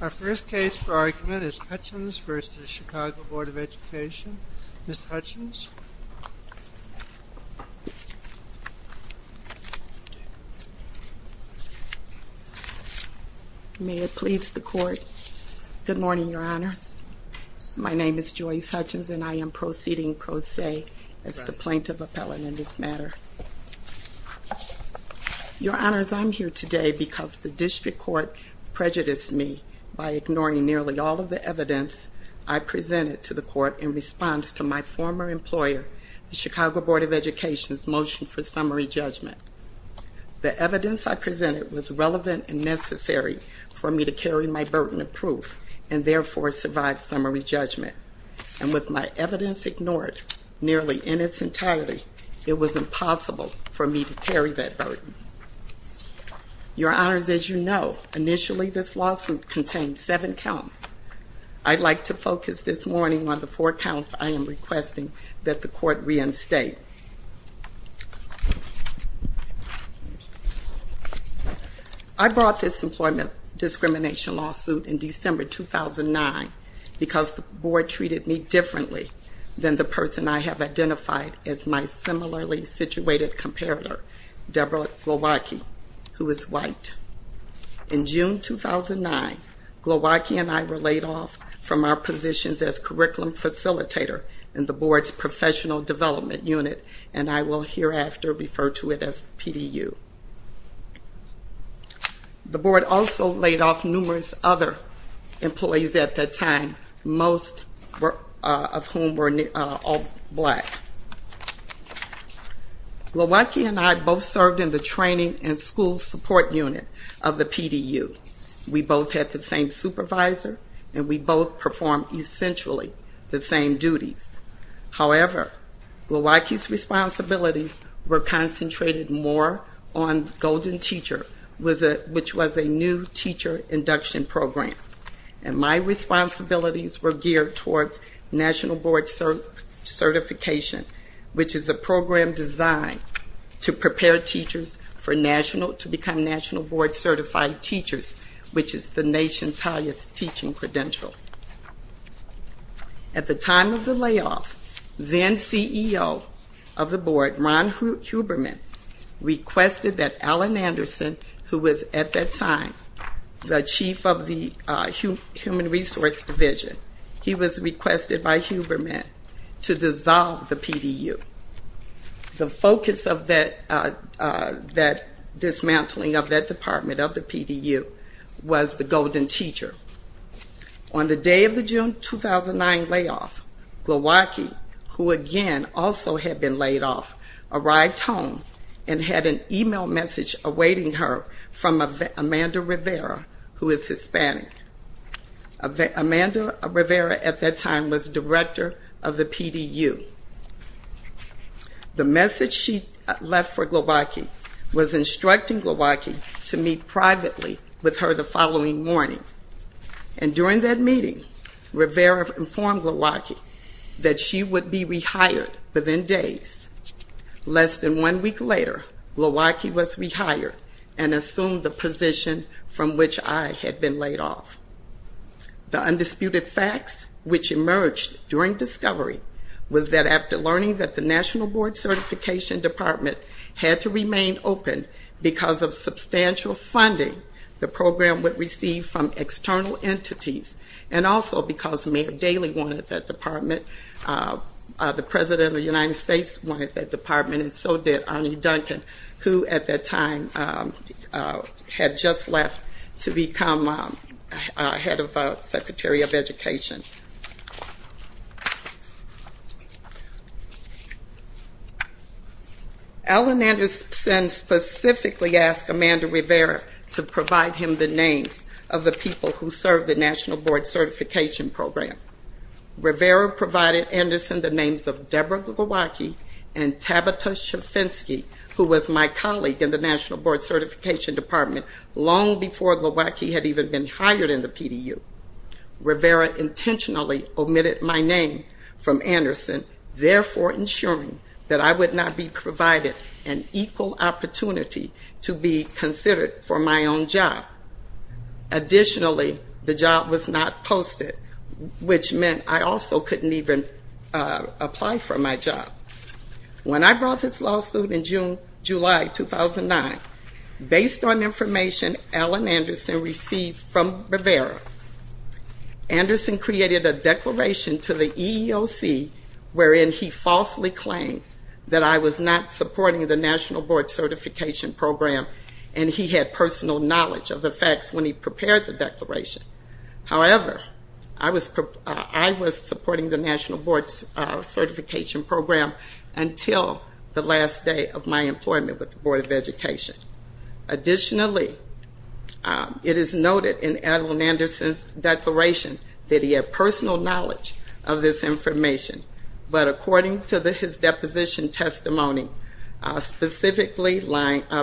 Our first case for argument is Hutchens v. Chicago Board of Education. Ms. Hutchens. May it please the Court. Good morning, Your Honors. My name is Joyce Hutchens and I am proceeding pro se as the plaintiff appellant in this matter. Your Honors, I'm here today because the district court prejudiced me by ignoring nearly all of the evidence I presented to the court in response to my former employer, the Chicago Board of Education's motion for summary judgment. The evidence I presented was relevant and necessary for me to carry my burden of proof and therefore survive summary judgment. And with my evidence ignored nearly in its entirety, it was impossible for me to carry that burden. Your Honors, as you know, initially this lawsuit contained seven counts. I'd like to focus this morning on the four counts I am requesting that the court reinstate. I brought this employment discrimination lawsuit in December 2009 because the board treated me differently than the person I have identified as my similarly situated comparator, Deborah Glowacki, who is white. In June 2009, Glowacki and I were laid off from our positions as curriculum facilitator in the board's professional development unit and I will hereafter refer to it as PDU. The board also laid off numerous other employees at that time, most of whom were all black. Glowacki and I both served in the training and school support unit of the PDU. We both had the same supervisor and we both performed essentially the same duties. However, Glowacki's responsibilities were geared towards national board certification, which is a program designed to prepare teachers to become national board certified teachers, which is the nation's highest teaching credential. At the time of the layoff, then CEO of the board, Ron Huberman, requested that Allen of the human resource division, he was requested by Huberman to dissolve the PDU. The focus of that dismantling of that department of the PDU was the golden teacher. On the day of the June 2009 layoff, Glowacki, who again also had been laid off, arrived home and had an email message awaiting her from Amanda Rivera, who is Hispanic. Amanda Rivera at that time was director of the PDU. The message she left for Glowacki was instructing Glowacki to meet privately with her the following morning and during that meeting, Rivera informed Glowacki that she would be rehired within days. Less than one week later, Glowacki was rehired and assumed the position from which I had been laid off. The undisputed facts which emerged during discovery was that after learning that the national board certification department had to remain open because of substantial funding the program would receive from external entities and also because Mayor Daley wanted that department, the President of the United States wanted that department and so did Arne Duncan, who at that time had just left to become head of Secretary of Education. Allen Anderson specifically asked Amanda Rivera to provide him the names of the people who served the national board certification program. Rivera provided Anderson the names of Deborah Glowacki and Tabita Shafensky, who was my colleague in the national board certification department long before Glowacki had even been hired in the PDU. Rivera intentionally omitted my name from Anderson, therefore ensuring that I would not be provided an equal opportunity to be considered for my own job. Additionally, the job was not posted, which meant I also couldn't even apply for my job. When I brought this lawsuit in July 2009, based on information Allen Anderson received from Rivera, Anderson created a declaration to the EEOC wherein he falsely claimed that I was not supporting the national board certification program and he had personal knowledge of the facts when he prepared the declaration. However, I was supporting the national board certification program until the last day of my employment with the Board of Education. Additionally, it is noted in Allen Anderson's declaration that he had personal knowledge of this information, but according to his deposition testimony, specifically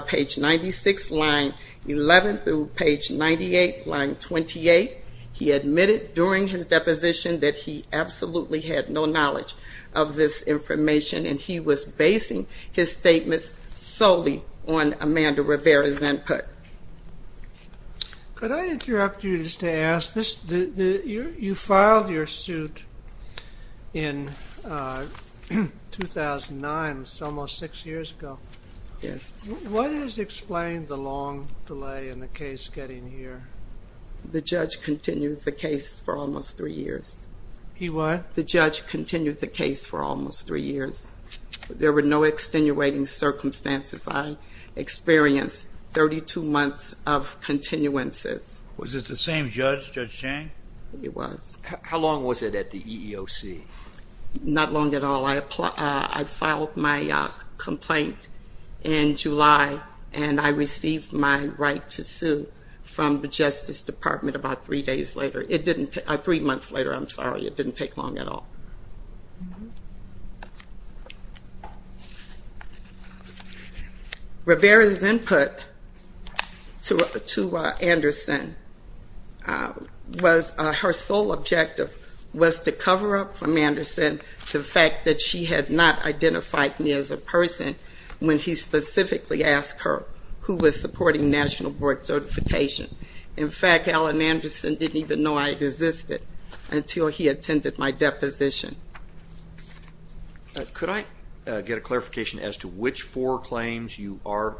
page 96, line 11 through page 98, line 28, he admitted during his deposition that he absolutely had no knowledge of this information. Could I interrupt you just to ask, you filed your suit in 2009, so almost six years ago. Yes. What has explained the long delay in the case getting here? The judge continued the case for almost three years. He what? The judge continued the case for almost three years. There were no extenuating circumstances. I experienced 32 months of continuances. Was it the same judge, Judge Chang? It was. How long was it at the EEOC? Not long at all. I filed my complaint in July and I received my right to sue from the Justice Department about three days later. Three months later, I'm sorry. It didn't take long at all. Rivera's input to Anderson was her sole objective was to cover up from Anderson the fact that she had not identified me as a person when he specifically asked her who was supporting National Board Certification. In fact, Allen Anderson didn't even know I existed until he attended my deposition. Could I get a clarification as to which four claims you are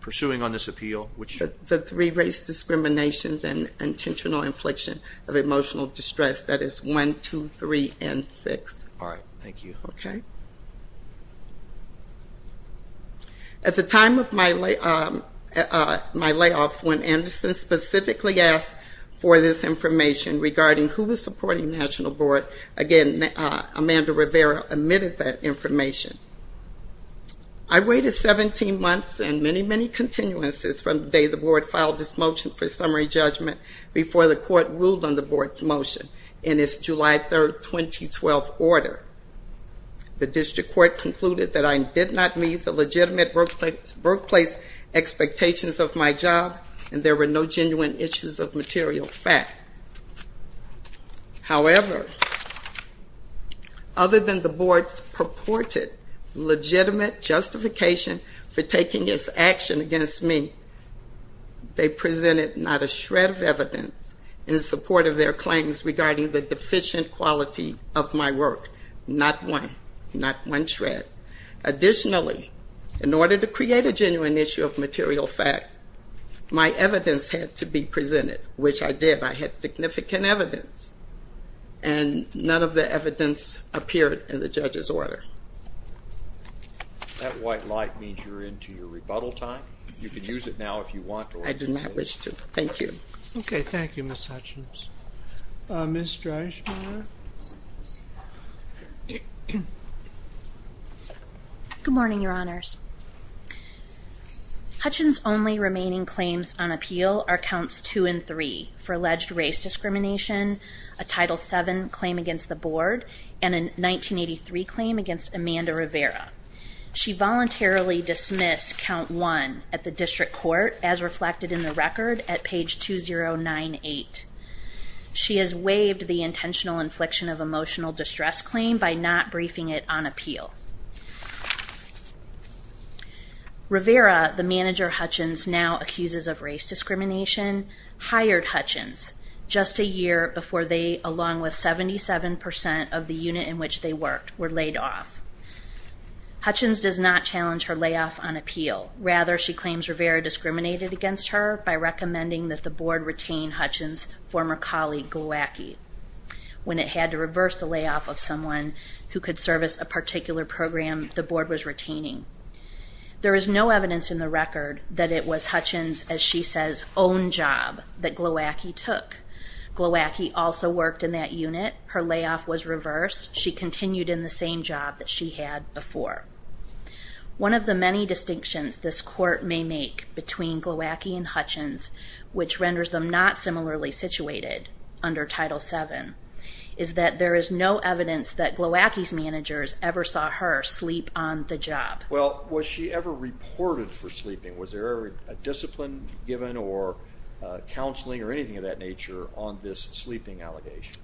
pursuing on this appeal? The three race discriminations and intentional infliction of emotional distress. That is one, two, three, and six. All right. Thank you. Okay. At the time of my layoff, when Anderson specifically asked for this information regarding who was supporting National Board, again, Amanda Rivera omitted that information. I waited 17 months and many, many continuances from the day the board filed this motion for summary judgment before the court ruled on the board's motion in its July 3, 2012 order. The district court concluded that I did not meet the legitimate workplace expectations of my job and there were no genuine issues of material fact. However, other than the board's purported legitimate justification for taking this action against me, they presented not a shred of evidence in support of their claims regarding the deficient quality of my work. Not one. Not one shred. Additionally, in order to create a genuine issue of material fact, my evidence had to be presented, which I did. I had significant evidence and none of the evidence appeared in the judge's order. That white light means you're into your rebuttal time. You can use it now if you want to. I do not wish to. Thank you. Okay. Thank you, Ms. Hutchins. Ms. Dreischmiller? Good morning, Your Honors. Hutchins' only remaining claims on appeal are counts 2 and 3 for alleged race discrimination, a Title VII claim against the board, and a 1983 claim against Amanda Rivera. She voluntarily dismissed count 1 at the district court, as reflected in the record at page 2098. She has waived the intentional infliction of emotional distress claim by not briefing it on appeal. Rivera, the manager Hutchins now accuses of race discrimination, hired Hutchins just a year before they, along with 77% of the unit in which they worked, were laid off. Hutchins does not challenge her layoff on appeal. Rather, she claims Rivera discriminated against her by recommending that the board retain Hutchins' former colleague, Glowacki, when it had to hire someone who could service a particular program the board was retaining. There is no evidence in the record that it was Hutchins', as she says, own job that Glowacki took. Glowacki also worked in that unit. Her layoff was reversed. She continued in the same job that she had before. One of the many distinctions this court may make between Glowacki and Hutchins, which is that Glowacki's managers ever saw her sleep on the job. Well, was she ever reported for sleeping? Was there ever a discipline given or counseling or anything of that nature on this sleeping allegation?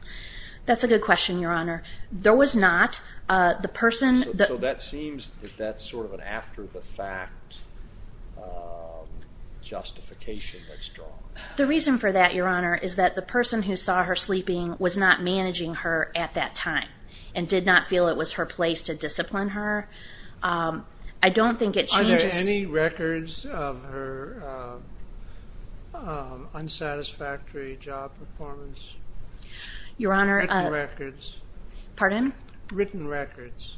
That's a good question, Your Honor. There was not. The person that... So that seems that that's sort of an after-the-fact justification that's drawn. The reason for that, Your Honor, is that the person who saw her sleeping was not managing her at that time and did not feel it was her place to discipline her. I don't think it changes... Are there any records of her unsatisfactory job performance? Your Honor... Written records. Pardon? Written records.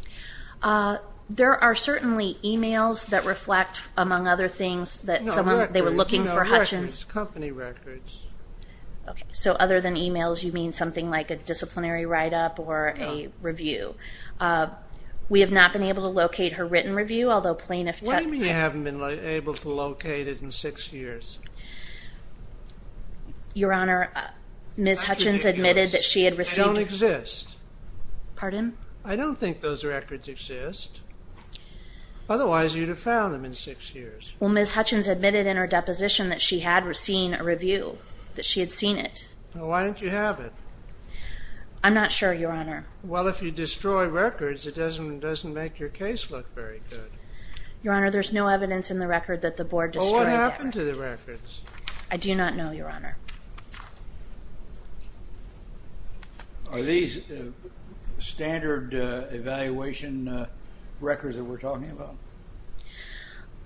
There are certainly emails that reflect, among other things, that someone... No, records. They were looking for Hutchins'. No, records. Company records. Okay, so other than emails, you mean something like a disciplinary write-up or a review. We have not been able to locate her written review, although plaintiff... What do you mean you haven't been able to locate it in six years? Your Honor, Ms. Hutchins admitted that she had received... I don't think those records exist, otherwise you'd have found them in six years. Well, Ms. Hutchins admitted in her deposition that she had seen a review, that she had seen it. Well, why didn't you have it? I'm not sure, Your Honor. Well, if you destroy records, it doesn't make your case look very good. Your Honor, there's no evidence in the record that the board destroyed the records. Well, what happened to the records? I do not know, Your Honor. Are these standard evaluation records that we're talking about?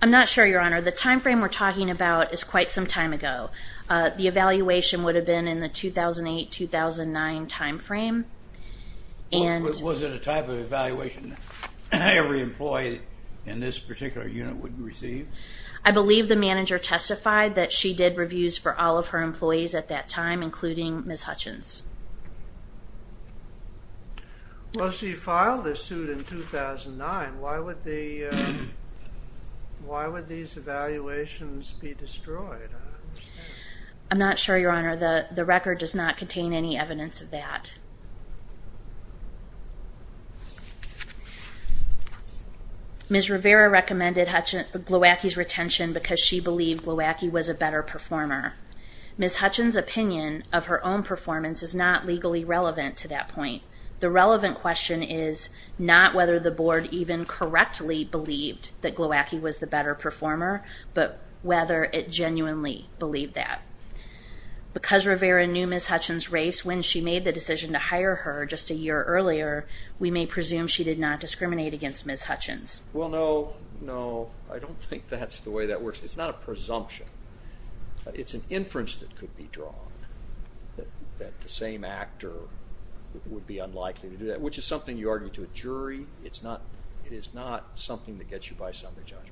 I'm not sure, Your Honor. The time frame we're talking about is quite some time ago. The evaluation would have been in the 2008-2009 time frame, and... Was it a type of evaluation that every employee in this particular unit would receive? I believe the manager testified that she did reviews for all of her employees at that time, including Ms. Hutchins. Well, she filed this suit in 2009. Why would these evaluations be destroyed? I'm not sure, Your Honor. The record does not contain any evidence of that. Ms. Rivera recommended Glowacki's retention because she believed Glowacki was a better performer. Ms. Hutchins' opinion of her own performance is not legally relevant to that point. The relevant question is not whether the board even correctly believed that Glowacki was the better performer, but whether it genuinely believed that. Because Rivera knew Ms. Hutchins' race when she made the decision to hire her just a year earlier, we may presume she did not discriminate against Ms. Hutchins. Well, no, no. I don't think that's the way that works. It's not a presumption. It's an inference that could be drawn that the same actor would be unlikely to do that, which is something you argue to a jury. It is not something that gets you by summary judgment.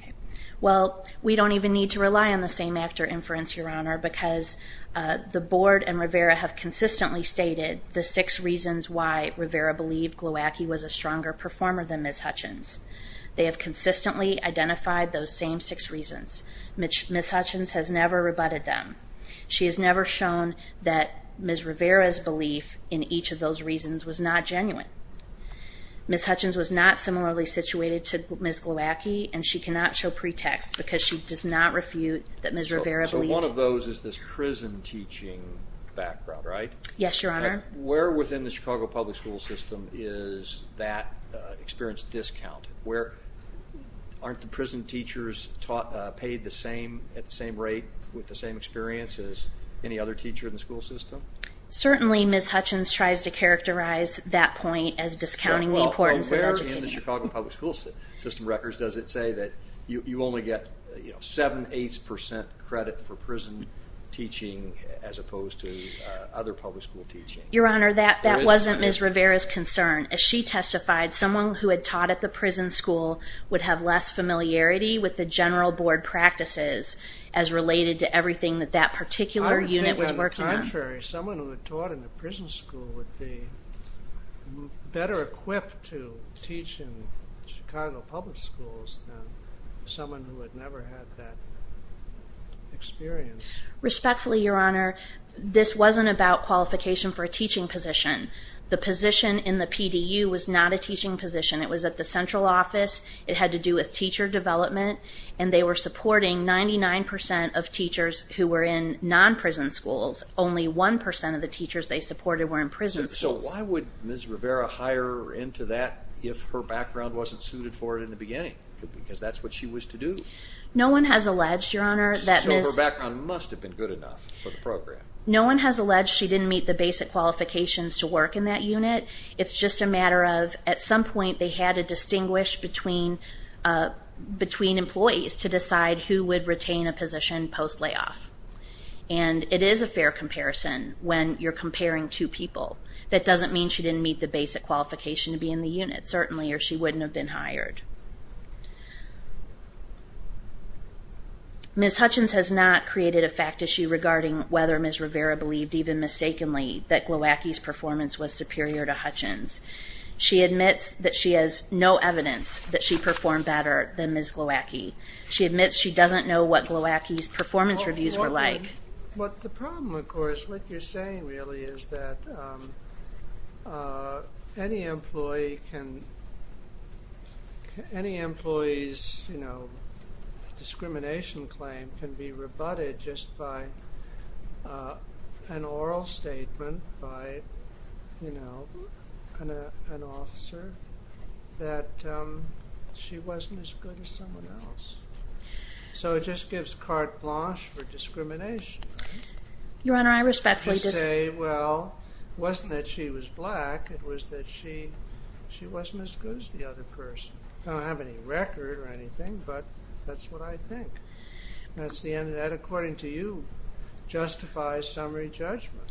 Okay. Well, we don't even need to rely on the same actor inference, Your Honor, because the board and Rivera have consistently stated the six reasons why Rivera believed Glowacki was a stronger performer than Ms. Hutchins. They have consistently identified those same six reasons. Ms. Hutchins has never rebutted them. She has never shown that Ms. Rivera's belief in each of those reasons was not genuine. Ms. Hutchins was not similarly situated to Ms. Glowacki, and she cannot show pretext because she does not refute that Ms. Rivera believed. So one of those is this prison teaching background, right? Yes, Your Honor. Where within the Chicago public school system is that experience discounted? Aren't the prison teachers paid at the same rate with the same experience as any other teacher in the school system? Certainly Ms. Hutchins tries to characterize that point as discounting the importance of teaching. Well, where in the Chicago public school system records does it say that you only get 7, 8 percent credit for prison teaching as opposed to other public school teaching? Your Honor, that wasn't Ms. Rivera's concern. As she testified, someone who had taught at the prison school would have less familiarity with the general board practices as related to everything that that particular unit was working on. I would think that, on the contrary, someone who had taught in a prison school would be better equipped to teach in Chicago public schools than someone who had never had that experience. Respectfully, Your Honor, this wasn't about qualification for a teaching position. The position in the PDU was not a teaching position. It was at the central office. It had to do with teacher development, and they were supporting 99 percent of teachers who were in non-prison schools. Only 1 percent of the teachers they supported were in prison schools. So why would Ms. Rivera hire into that if her background wasn't suited for it in the beginning? Because that's what she was to do. No one has alleged, Your Honor, that Ms. So her background must have been good enough for the program. No one has alleged she didn't meet the basic qualifications to work in that unit. It's just a matter of at some point they had to distinguish between employees to decide who would retain a position post-layoff. And it is a fair comparison when you're comparing two people. That doesn't mean she didn't meet the basic qualification to be in the unit, certainly, or she wouldn't have been hired. Ms. Hutchins has not created a fact issue regarding whether Ms. Rivera believed, even mistakenly, that Glowacki's performance was superior to Hutchins. She admits that she has no evidence that she performed better than Ms. Glowacki. She admits she doesn't know what Glowacki's performance reviews were like. But the problem, of course, what you're saying, really, is that any employee's discrimination claim can be rebutted just by an oral statement by an officer that she wasn't as good as someone else. So it just gives carte blanche for discrimination, right? Your Honor, I respectfully disagree. You say, well, it wasn't that she was black. It was that she wasn't as good as the other person. I don't have any record or anything, but that's what I think. That's the end of that. According to you, it justifies summary judgment.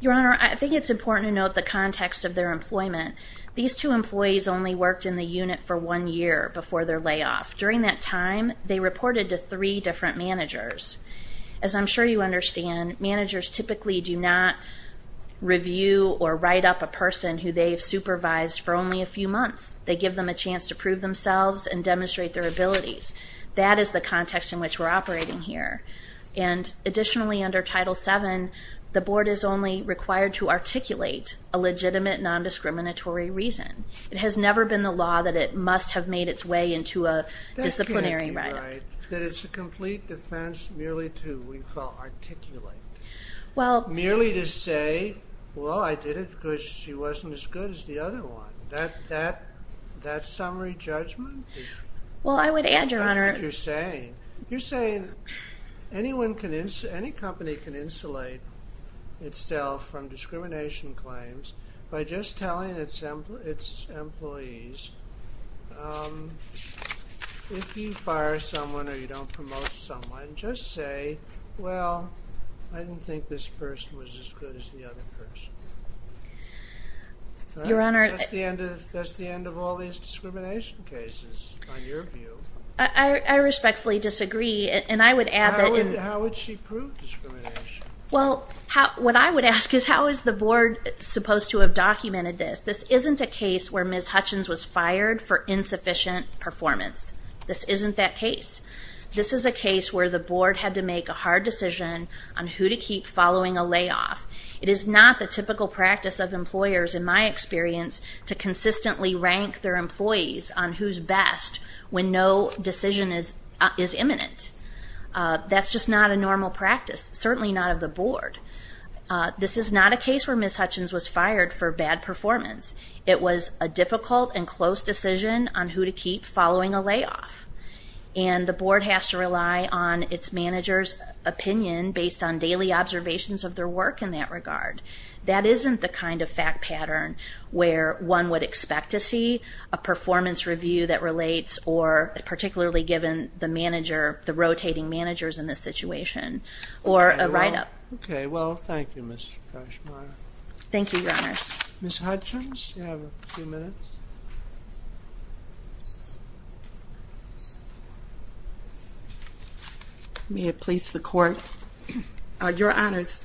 Your Honor, I think it's important to note the context of their employment. These two employees only worked in the unit for one year before their layoff. During that time, they reported to three different managers. As I'm sure you understand, managers typically do not review or write up a person who they've supervised for only a few months. They give them a chance to prove themselves and demonstrate their abilities. That is the context in which we're operating here. Additionally, under Title VII, the board is only required to articulate a legitimate nondiscriminatory reason. It has never been the law that it must have made its way into a disciplinary writing. That can't be right, that it's a complete defense merely to, we call, articulate. Merely to say, well, I did it because she wasn't as good as the other one. That's summary judgment? Well, I would add, Your Honor. That's what you're saying. You're saying any company can insulate itself from discrimination claims by just telling its employees, if you fire someone or you don't promote someone, just say, well, I didn't think this person was as good as the other person. Your Honor. That's the end of all these discrimination cases, in your view. I respectfully disagree, and I would add that in. How would she prove discrimination? Well, what I would ask is how is the board supposed to have documented this? This isn't a case where Ms. Hutchins was fired for insufficient performance. This isn't that case. This is a case where the board had to make a hard decision on who to keep following a layoff. It is not the typical practice of employers, in my experience, to consistently rank their employees on who's best when no decision is imminent. That's just not a normal practice, certainly not of the board. This is not a case where Ms. Hutchins was fired for bad performance. It was a difficult and close decision on who to keep following a layoff, and the board has to rely on its manager's opinion based on daily observations of their work in that regard. That isn't the kind of fact pattern where one would expect to see a performance review that relates or particularly given the rotating managers in this situation or a write-up. Okay. Well, thank you, Ms. Crashmeyer. Thank you, Your Honors. Ms. Hutchins, you have a few minutes. May it please the Court. Your Honors,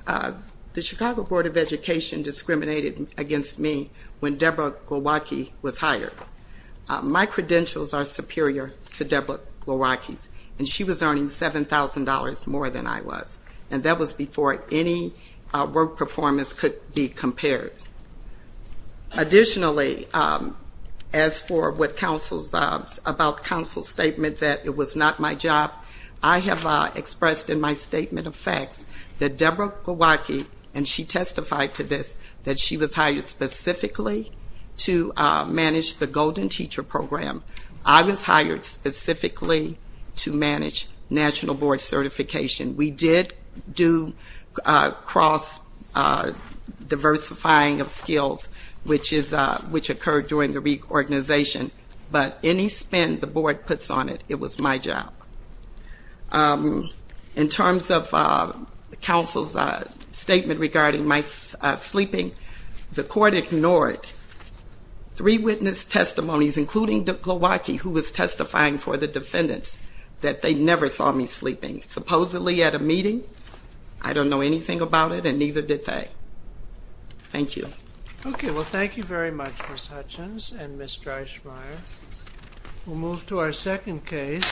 the Chicago Board of Education discriminated against me when Debra Gowacki was hired. My credentials are superior to Debra Gowacki's, and she was earning $7,000 more than I was, and that was before any work performance could be compared. Additionally, as for what counsels about counsel's statement that it was not my job, I have expressed in my statement of facts that Debra Gowacki, and she testified to this, that she was hired specifically to manage the Golden Teacher Program. I was hired specifically to manage National Board Certification. We did do cross-diversifying of skills, which occurred during the reorganization, but any spend the board puts on it, it was my job. In terms of counsel's statement regarding my sleeping, the Court ignored three witness testimonies, including Debra Gowacki, who was testifying for the defendants, that they never saw me sleeping. Supposedly at a meeting, I don't know anything about it, and neither did they. Thank you. Okay. Well, thank you very much, Ms. Hutchins and Ms. Crashmeyer. We'll move to our second case.